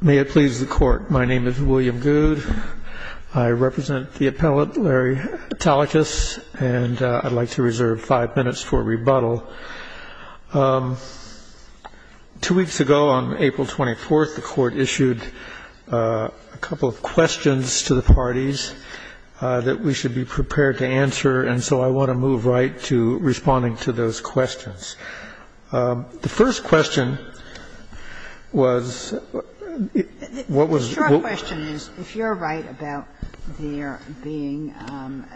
May it please the Court, my name is William Goode. I represent the appellate, Larry Tallacus, and I'd like to reserve five minutes for rebuttal. Two weeks ago, on April 24th, the Court issued a couple of questions to the parties that we should be prepared to answer, and so I want to move right to responding to those questions. The first question was, what was the question is, if you're right about there being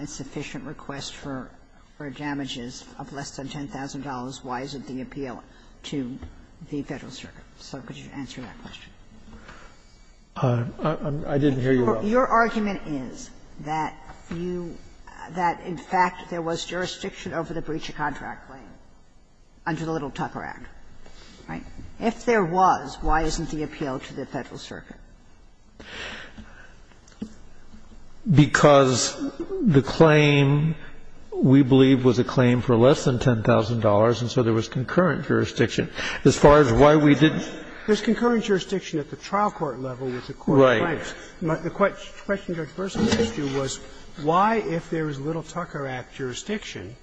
a sufficient request for damages of less than $10,000, why isn't the appeal to the Federal Circuit, so could you answer that question? I didn't hear you. Your argument is that you, that in fact there was jurisdiction over the breach of contract claim. Under the Little Tucker Act, right? If there was, why isn't the appeal to the Federal Circuit? Because the claim, we believe, was a claim for less than $10,000, and so there was concurrent jurisdiction. As far as why we didn't do that. There's concurrent jurisdiction at the trial court level with the court of crimes. Right. The question Judge Bersin asked you was, why, if there is Little Tucker Act jurisdiction,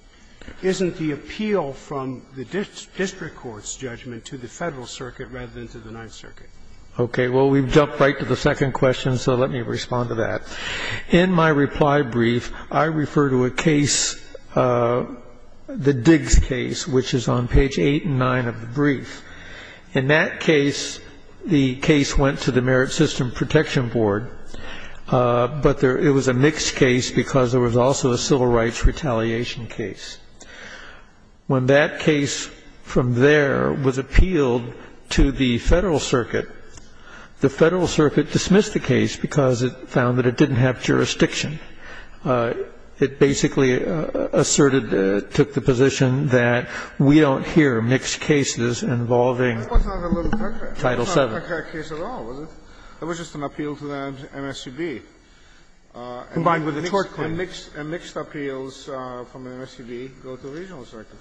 isn't the appeal from the district court's judgment to the Federal Circuit rather than to the Ninth Circuit? Okay. Well, we've jumped right to the second question, so let me respond to that. In my reply brief, I refer to a case, the Diggs case, which is on page 8 and 9 of the brief. In that case, the case went to the Merit System Protection Board, but there was a mixed case because there was also a civil rights retaliation case. When that case from there was appealed to the Federal Circuit, the Federal Circuit dismissed the case because it found that it didn't have jurisdiction. It basically asserted, took the position that we don't hear mixed cases involving Title VII. That was not a Little Tucker Act case at all, was it? It was just an appeal to the MSPB. Combined with a tort claim. And mixed appeals from the MSPB go to the regional circuit.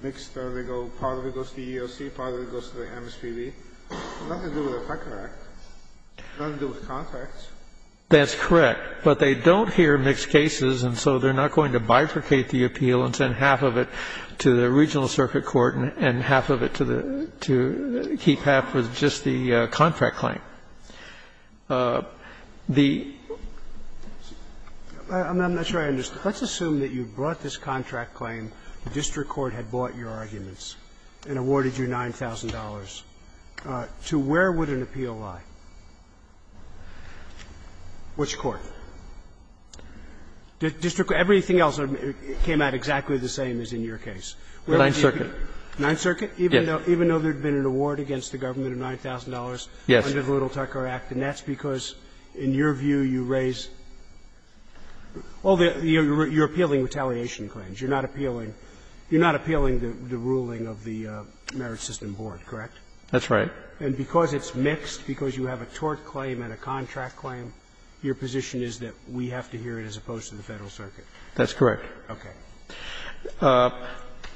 Mixed, they go to the EEOC, part of it goes to the MSPB. Nothing to do with the Tucker Act, nothing to do with contracts. That's correct, but they don't hear mixed cases, and so they're not going to bifurcate the appeal and send half of it to the regional circuit court and half of it to keep And the other half was just the contract claim. The ---- I'm not sure I understand. Let's assume that you brought this contract claim, the district court had bought your arguments and awarded you $9,000. To where would an appeal lie? Which court? The district court, everything else came out exactly the same as in your case. Ninth Circuit. Ninth Circuit? Yes. Even though there had been an award against the government of $9,000 under the Little Tucker Act, and that's because in your view you raise ---- you're appealing retaliation claims, you're not appealing the ruling of the Merit System Board, correct? That's right. And because it's mixed, because you have a tort claim and a contract claim, your position is that we have to hear it as opposed to the Federal Circuit? That's correct. Okay.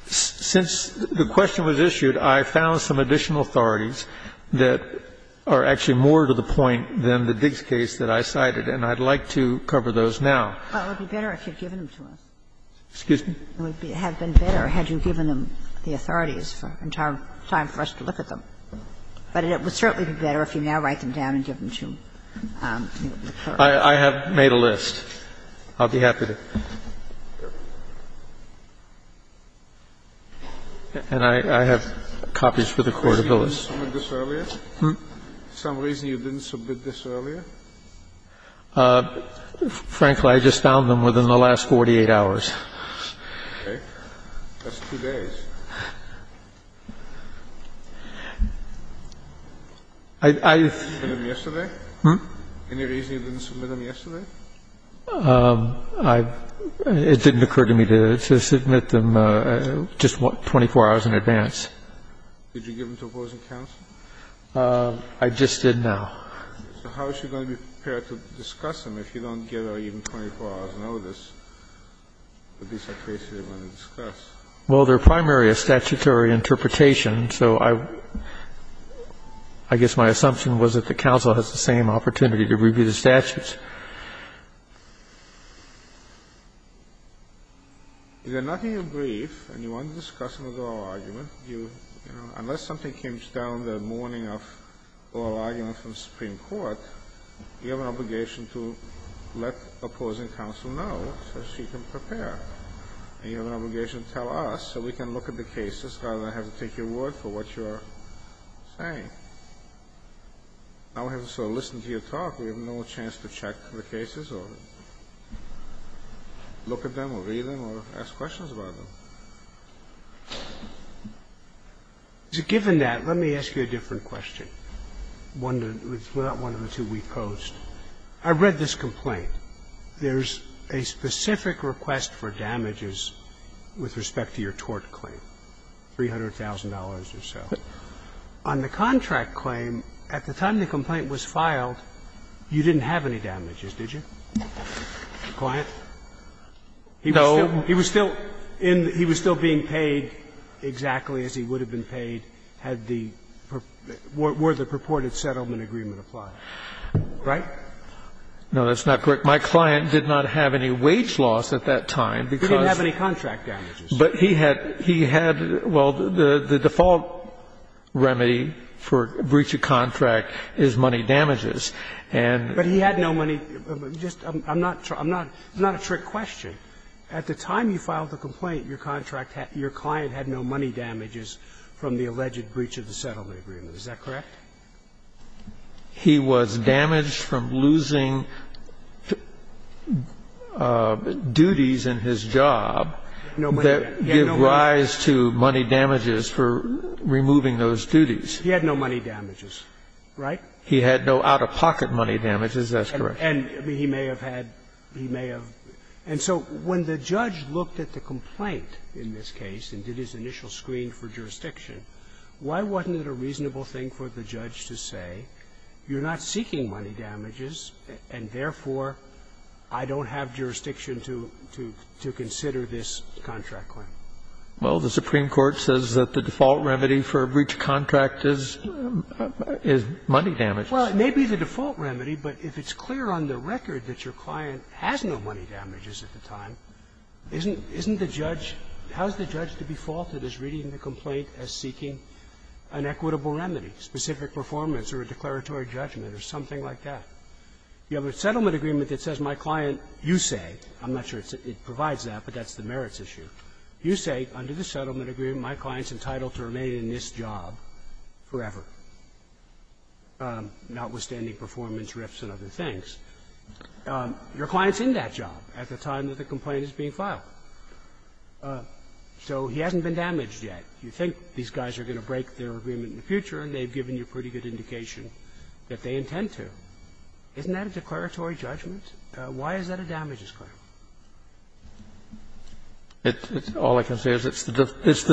Since the question was issued, I found some additional authorities that are actually more to the point than the Diggs case that I cited, and I'd like to cover those now. Well, it would be better if you had given them to us. Excuse me? It would have been better had you given them, the authorities, for an entire time for us to look at them. But it would certainly be better if you now write them down and give them to me. I have made a list. I'll be happy to. And I have copies for the Court of Billings. For some reason you didn't submit this earlier? Frankly, I just found them within the last 48 hours. Okay. That's two days. I ---- Any reason you didn't submit them yesterday? I ---- it didn't occur to me to submit them just 24 hours in advance. Did you give them to opposing counsel? I just did now. So how is she going to be prepared to discuss them if you don't give her even 24 hours notice? These are cases you're going to discuss. Well, they're primarily a statutory interpretation, so I ---- I guess my assumption was that the counsel has the same opportunity to review the statutes. You've got nothing in brief, and you want to discuss them with oral argument, you ---- unless something comes down the morning of oral argument from the Supreme Court, you have an obligation to let opposing counsel know so she can prepare, and you have an obligation to tell us so we can look at the cases rather than have to take your word for what you're saying. I would have to sort of listen to your talk. We have no chance to check the cases or look at them or read them or ask questions about them. Given that, let me ask you a different question, one that's not one of the two we posed. I read this complaint. There's a specific request for damages with respect to your tort claim, $300,000 or so. On the contract claim, at the time the complaint was filed, you didn't have any damages, did you? The client? He was still in the ---- he was still being paid exactly as he would have been paid had the ---- were the purported settlement agreement applied, right? No, that's not correct. My client did not have any wage loss at that time, because he had, well, the default remedy for breach of contract is money damages. And he had no money. Just ---- I'm not ---- I'm not ---- it's not a trick question. At the time you filed the complaint, your contract had ---- your client had no money damages from the alleged breach of the settlement agreement. Is that correct? He was damaged from losing duties in his job that give rise to money damages for removing those duties. He had no money damages, right? He had no out-of-pocket money damages. That's correct. And he may have had ---- he may have. And so when the judge looked at the complaint in this case and did his initial screen for jurisdiction, why wasn't it a reasonable thing for the judge to say, you're not seeking money damages, and therefore, I don't have jurisdiction to consider this contract claim? Well, the Supreme Court says that the default remedy for a breach of contract is money damages. Well, it may be the default remedy, but if it's clear on the record that your client has no money damages at the time, isn't the judge ---- how is the judge to be faulted as reading the complaint as seeking an equitable remedy, specific performance or a declaratory judgment or something like that? You have a settlement agreement that says my client, you say, I'm not sure it provides that, but that's the merits issue. You say, under the settlement agreement, my client's entitled to remain in this job forever, notwithstanding performance rifts and other things. Your client's in that job at the time that the complaint is being filed. So he hasn't been damaged yet. You think these guys are going to break their agreement in the future, and they've given you pretty good indication that they intend to. Isn't that a declaratory judgment? Why is that a damages claim? It's the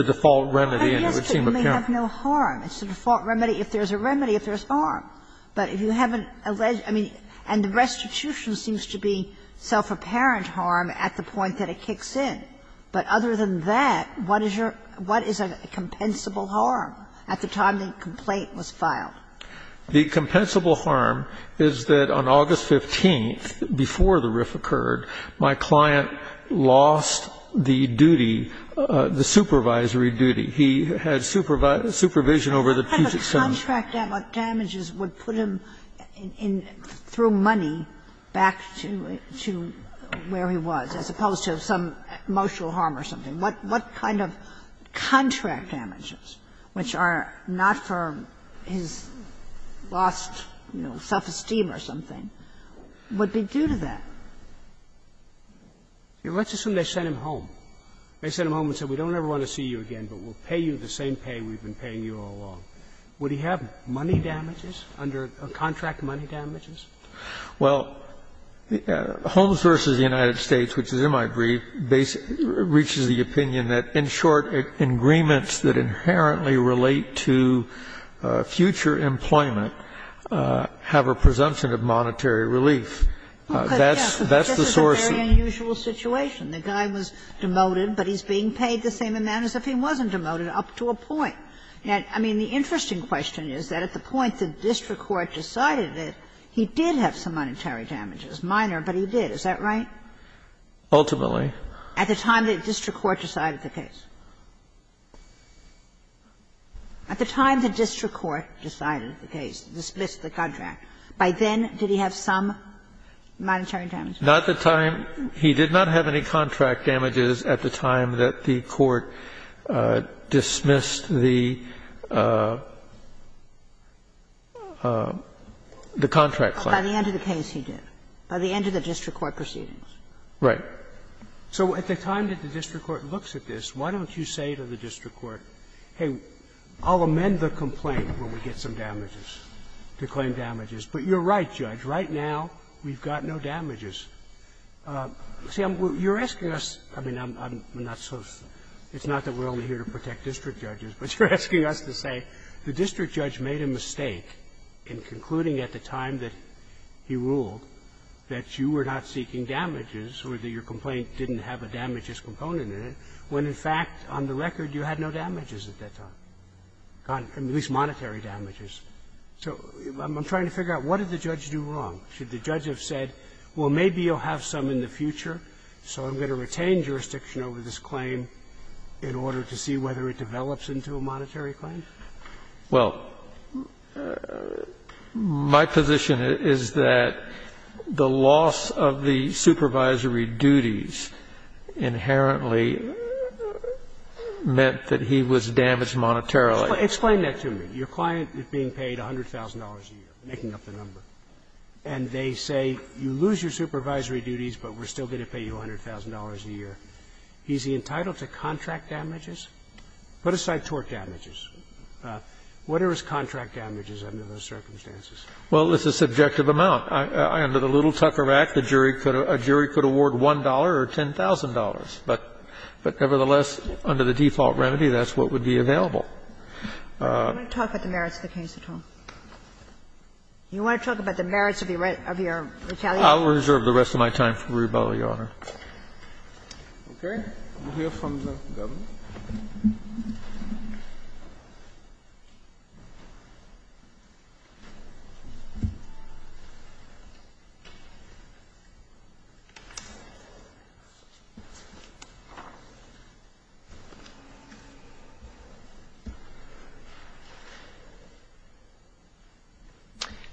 default remedy. And it would seem apparent. But you may have no harm. It's the default remedy. If there's a remedy, if there's harm. But if you haven't alleged ---- I mean, and the restitution seems to be self-apparent harm at the point that it kicks in. But other than that, what is your ---- what is a compensable harm at the time the complaint was filed? The compensable harm is that on August 15th, before the rift occurred, my client lost the duty, the supervisory duty. He had supervision over the Puget Sound. What kind of contract damages would put him in, through money, back to where he was, as opposed to some emotional harm or something? What kind of contract damages, which are not for his lost, you know, self-esteem or something, would be due to that? Let's assume they sent him home. They sent him home and said, we don't ever want to see you again, but we'll pay you the same pay we've been paying you all along. Would he have money damages under the contract, money damages? Well, Homes v. United States, which is in my brief, reaches the opinion that, in short, agreements that inherently relate to future employment have a presumption of monetary relief. That's the source of the problem. Kagan, this is a very unusual situation. The guy was demoted, but he's being paid the same amount as if he wasn't demoted, up to a point. I mean, the interesting question is that at the point the district court decided that he did have some monetary damages, minor, but he did. Is that right? Ultimately. At the time the district court decided the case. At the time the district court decided the case, dismissed the contract, by then did he have some monetary damages? Not the time. He did not have any contract damages at the time that the court dismissed the contract claim. By the end of the case, he did, by the end of the district court proceedings. Right. So at the time that the district court looks at this, why don't you say to the district court, hey, I'll amend the complaint when we get some damages, to claim damages. But you're right, Judge. Right now, we've got no damages. See, you're asking us – I mean, I'm not so – it's not that we're only here to protect district judges, but you're asking us to say the district judge made a mistake in concluding at the time that he ruled that you were not seeking damages or that your complaint didn't have a damages component in it, when, in fact, on the record, you had no damages at that time, at least monetary damages. So I'm trying to figure out what did the judge do wrong. Should the judge have said, well, maybe you'll have some in the future, so I'm going to retain jurisdiction over this claim in order to see whether it develops into a monetary claim? Well, my position is that the loss of the supervisory duties inherently meant that he was damaged monetarily. Explain that to me. Your client is being paid $100,000 a year, making up the number. And they say, you lose your supervisory duties, but we're still going to pay you $100,000 a year. Is he entitled to contract damages? Put aside tort damages. What are his contract damages under those circumstances? Well, it's a subjective amount. Under the Little Tucker Act, a jury could award $1 or $10,000. But nevertheless, under the default remedy, that's what would be available. You want to talk about the merits of the case at all? You want to talk about the merits of your retaliation? I'll reserve the rest of my time for rebuttal, Your Honor. Okay. We'll hear from the Governor.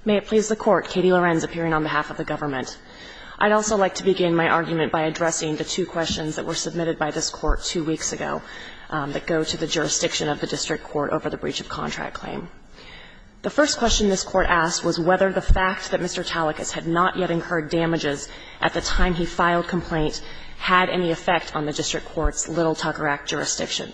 May it please the Court, Katie Lorenz, appearing on behalf of the government. I'd also like to begin my argument by addressing the two questions that were submitted by this Court two weeks ago. They go to the jurisdiction of the district court over the breach of contract claim. The first question this Court asked was whether the fact that Mr. Tallecas had not yet incurred damages at the time he filed complaint had any effect on the district court's Little Tucker Act jurisdiction.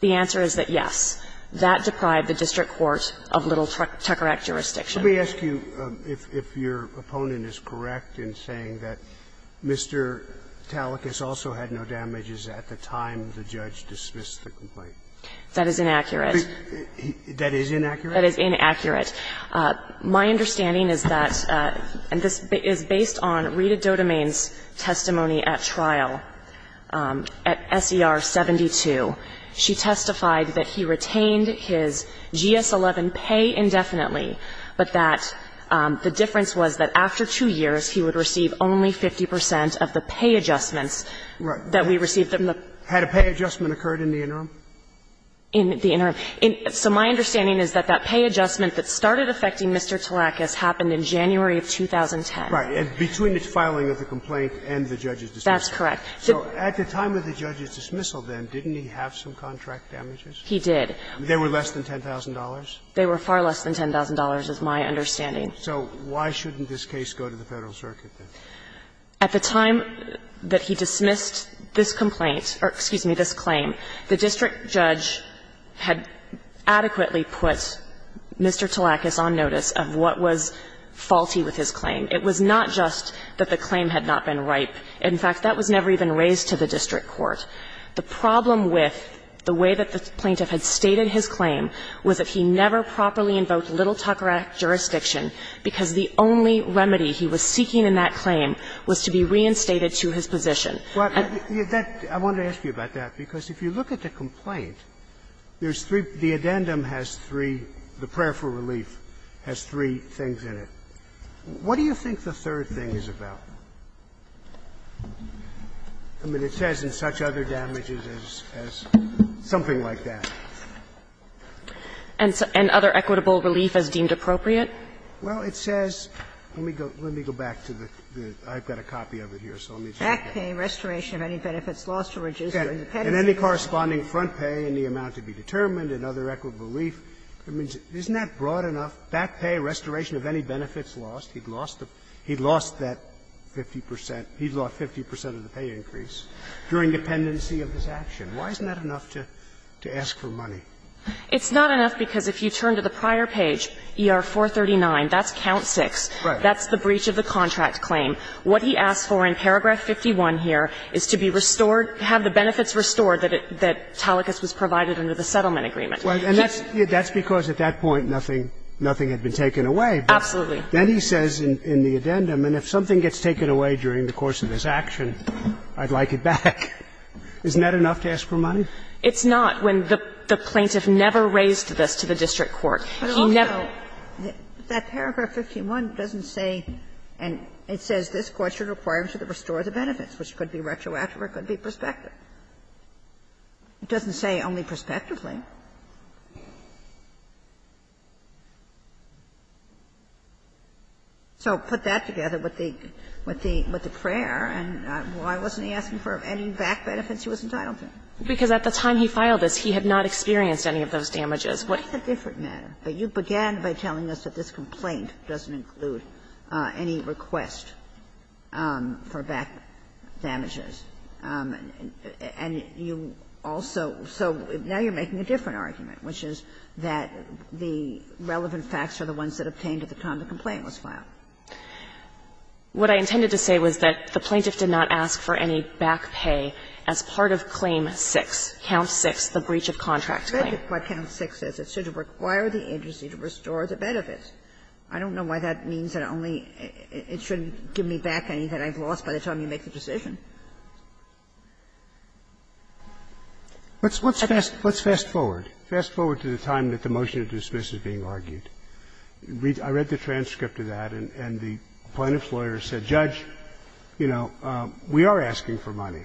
The answer is that, yes, that deprived the district court of Little Tucker Act jurisdiction. Let me ask you if your opponent is correct in saying that Mr. Tallecas also had no And if so, how did the judge dismiss the complaint? That is inaccurate. That is inaccurate? That is inaccurate. My understanding is that, and this is based on Rita Dodemain's testimony at trial at SER 72. She testified that he retained his GS-11 pay indefinitely, but that the difference was that after two years, he would receive only 50 percent of the pay adjustments that we received. Had a pay adjustment occurred in the interim? In the interim. So my understanding is that that pay adjustment that started affecting Mr. Tallecas happened in January of 2010. Right. Between the filing of the complaint and the judge's dismissal. That's correct. So at the time of the judge's dismissal, then, didn't he have some contract damages? He did. They were less than $10,000? They were far less than $10,000 is my understanding. So why shouldn't this case go to the Federal Circuit, then? At the time that he dismissed this complaint or, excuse me, this claim, the district judge had adequately put Mr. Tallecas on notice of what was faulty with his claim. It was not just that the claim had not been ripe. In fact, that was never even raised to the district court. The problem with the way that the plaintiff had stated his claim was that he never properly invoked Little Tucker Act jurisdiction, because the only remedy he was seeking in that claim was to be reinstated to his position. And that's why I wanted to ask you about that, because if you look at the complaint, there's three the addendum has three, the prayer for relief has three things in it. What do you think the third thing is about? I mean, it says in such other damages as something like that. And other equitable relief as deemed appropriate? Well, it says, let me go back to the the I've got a copy of it here, so let me check it. Back pay, restoration of any benefits lost to reduce the penalty. And any corresponding front pay in the amount to be determined and other equitable relief. I mean, isn't that broad enough? Back pay, restoration of any benefits lost. He'd lost that 50 percent. He'd lost 50 percent of the pay increase during dependency of his action. Why isn't that enough to ask for money? It's not enough because if you turn to the prior page, ER-439, that's count six. That's the breach of the contract claim. What he asked for in paragraph 51 here is to be restored, have the benefits restored that Talicus was provided under the settlement agreement. Well, and that's because at that point nothing had been taken away. Absolutely. Then he says in the addendum, and if something gets taken away during the course of his action, I'd like it back. Isn't that enough to ask for money? It's not when the plaintiff never raised this to the district court. He never. But also, that paragraph 51 doesn't say, and it says this Court should require him to restore the benefits, which could be retroactive or could be prospective. It doesn't say only prospectively. So put that together with the prayer, and why wasn't he asking for any back benefits he was entitled to? Because at the time he filed this, he had not experienced any of those damages. What's the difference? But you began by telling us that this complaint doesn't include any request for back damages. And you also so now you're making a different argument, which is that the relevant facts are the ones that obtained at the time the complaint was filed. What I intended to say was that the plaintiff did not ask for any back pay as part of Claim 6, Count 6, the breach of contract claim. That's exactly what Count 6 says. It said it required the agency to restore the benefits. I don't know why that means that only it shouldn't give me back anything I've lost by the time you make the decision. Let's fast forward. Fast forward to the time that the motion to dismiss is being argued. I read the transcript of that, and the plaintiff's lawyer said, Judge, you know, we are asking for money,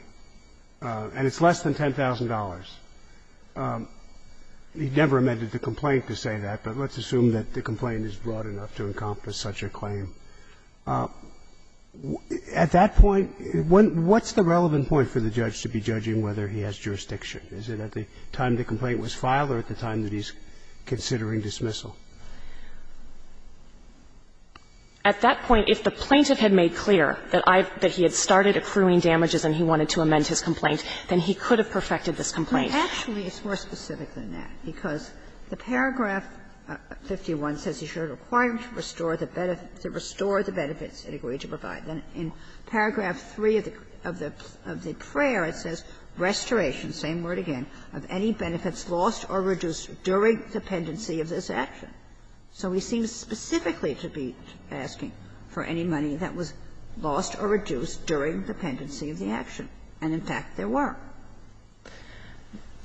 and it's less than $10,000. He never amended the complaint to say that, but let's assume that the complaint is broad enough to encompass such a claim. At that point, what's the relevant point for the judge to be judging whether he has jurisdiction? Is it at the time the complaint was filed or at the time that he's considering dismissal? At that point, if the plaintiff had made clear that I've – that he had started accruing damages and he wanted to amend his complaint, then he could have perfected this complaint. Actually, it's more specific than that, because the paragraph 51 says you're required to restore the benefits it agreed to provide. Then in paragraph 3 of the prayer, it says, Restoration, same word again, of any benefits lost or reduced during the pendency of this action. So he seems specifically to be asking for any money that was lost or reduced during the pendency of the action, and in fact, there were.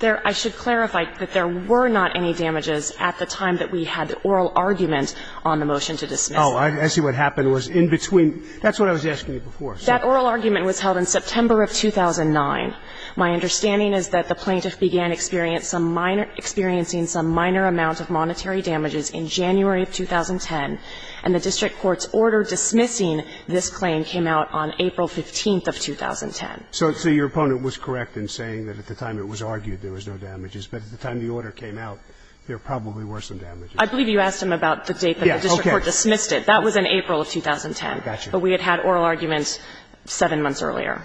I should clarify that there were not any damages at the time that we had the oral argument on the motion to dismiss. Oh, I see what happened was in between. That's what I was asking you before. That oral argument was held in September of 2009. My understanding is that the plaintiff began experience some minor – experiencing some minor amount of monetary damages in January of 2010, and the district court's order dismissing this claim came out on April 15th of 2010. So your opponent was correct in saying that at the time it was argued there was no damages, but at the time the order came out, there probably were some damages. I believe you asked him about the date that the district court dismissed it. That was in April of 2010. But we had had oral arguments seven months earlier.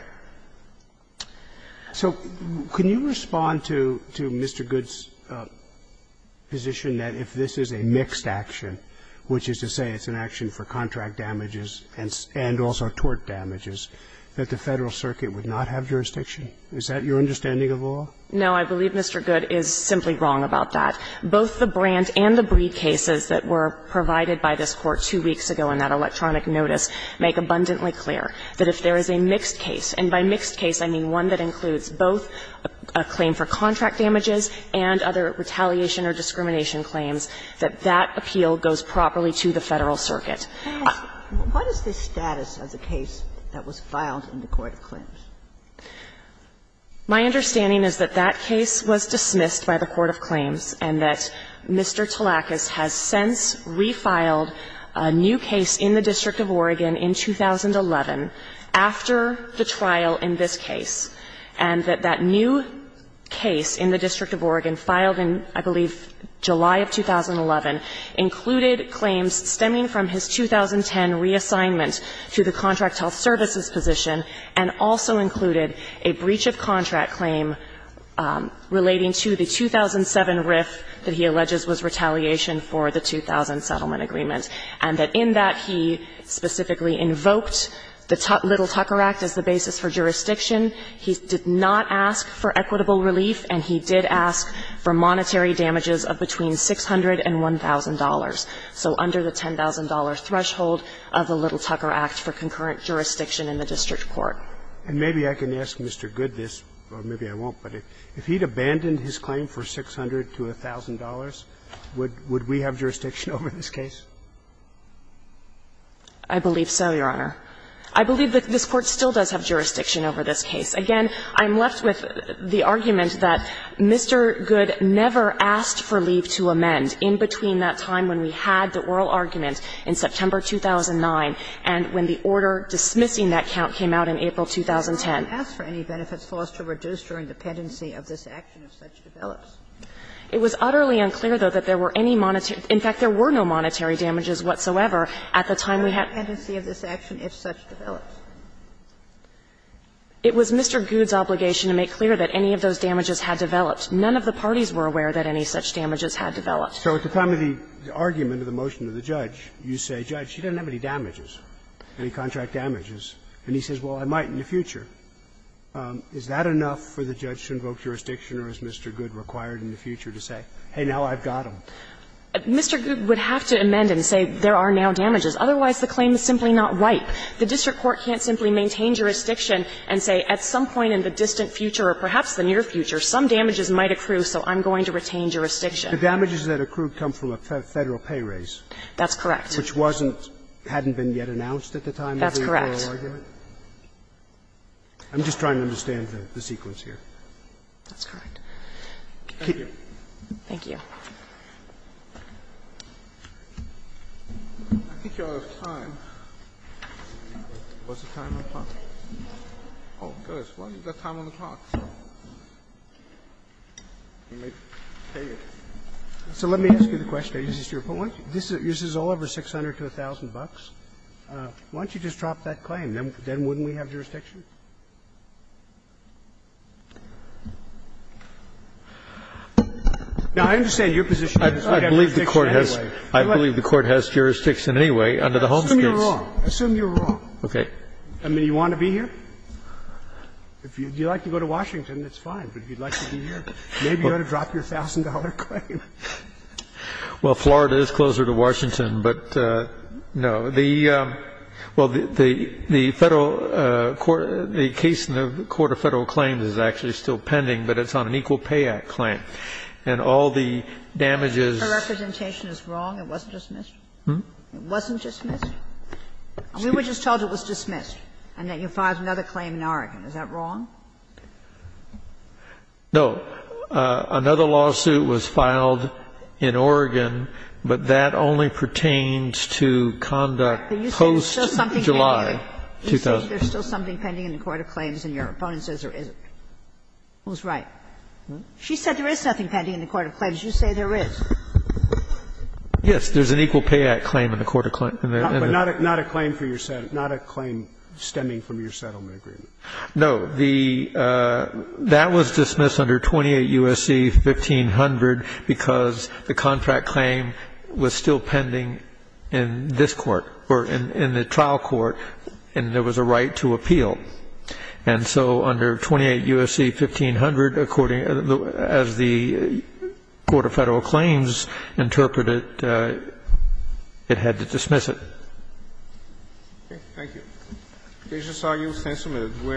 So can you respond to Mr. Good's position that if this is a mixed action, which is to say it's an action for contract damages and also tort damages, that the Federal Circuit would not have jurisdiction? Is that your understanding of law? No. I believe Mr. Good is simply wrong about that. Both the Brandt and the Breed cases that were provided by this Court two weeks ago in that electronic notice make abundantly clear that if there is a mixed case – and by mixed case, I mean one that includes both a claim for contract damages and other retaliation or discrimination claims – that that appeal goes properly to the Federal Circuit. What is the status of the case that was filed in the court of claims? My understanding is that that case was dismissed by the court of claims and that Mr. Talakis has since refiled a new case in the District of Oregon in 2011 after the trial in this case, and that that new case in the District of Oregon filed in, I believe, July of 2011, included claims stemming from his 2010 reassignment to the Contract Health Services position and also included a breach of contract claim relating to the 2007 RIF that he alleges was retaliation for the 2000 settlement agreement, and that in that he specifically invoked the Little Tucker Act as the basis for jurisdiction. He did not ask for equitable relief, and he did ask for monetary damages of between $600 and $1,000, so under the $10,000 threshold of the Little Tucker Act for concurrent jurisdiction in the district court. And maybe I can ask Mr. Goode this, or maybe I won't, but if he had abandoned his claim for $600 to $1,000, would we have jurisdiction over this case? I believe so, Your Honor. I believe that this Court still does have jurisdiction over this case. Again, I'm left with the argument that Mr. Goode never asked for leave to amend in between that time when we had the oral argument in September 2009 and when the order dismissing that count came out in April 2010. Kagan. Kagan. It was utterly unclear, though, that there were any monetary – in fact, there were no monetary damages whatsoever at the time we had this action if such develops. It was Mr. Goode's obligation to make clear that any of those damages had developed. None of the parties were aware that any such damages had developed. So at the time of the argument of the motion to the judge, you say, Judge, she doesn't have any damages, any contract damages. And he says, well, I might in the future. Is that enough for the judge to invoke jurisdiction, or is Mr. Goode required in the future to say, hey, now I've got them? Mr. Goode would have to amend and say there are now damages. Otherwise, the claim is simply not right. The district court can't simply maintain jurisdiction and say at some point in the distant future or perhaps the near future, some damages might accrue, so I'm going to retain jurisdiction. The damages that accrue come from a Federal pay raise. That's correct. Which wasn't – hadn't been yet announced at the time of the oral argument? That's correct. I'm just trying to understand the sequence here. That's correct. Thank you. Thank you. I think you're out of time. What's the time on the clock? Oh, goodness. Why don't you get time on the clock? You may pay it. So let me ask you the question. Is this your point? This is all over 600 to 1,000 bucks. Why don't you just drop that claim? Then wouldn't we have jurisdiction? Now, I understand your position. I believe the Court has jurisdiction anyway under the home states. Assume you're wrong. Assume you're wrong. Okay. I mean, you want to be here? If you'd like to go to Washington, that's fine. But if you'd like to be here, maybe you ought to drop your $1,000 claim. Well, Florida is closer to Washington, but no. Well, the case in the Court of Federal Claims is actually still pending, but it's on an Equal Pay Act claim, and all the damages. If the representation is wrong, it wasn't dismissed? It wasn't dismissed? We were just told it was dismissed and that you filed another claim in Oregon. Is that wrong? No. Another lawsuit was filed in Oregon, but that only pertains to conduct post-July 2000. But you said there's still something pending in the Court of Claims, and your opponent says there isn't. Who's right? She said there is nothing pending in the Court of Claims. You say there is. Yes, there's an Equal Pay Act claim in the Court of Claims. But not a claim for your settlement, not a claim stemming from your settlement agreement. No. The that was dismissed under 28 U.S.C. 1500 because the contract claim was still pending in this Court or in the trial court, and there was a right to appeal. And so under 28 U.S.C. 1500, according as the Court of Federal Claims interpreted, it had to dismiss it. Thank you. We just saw you. Thanks a minute. We are adjourned.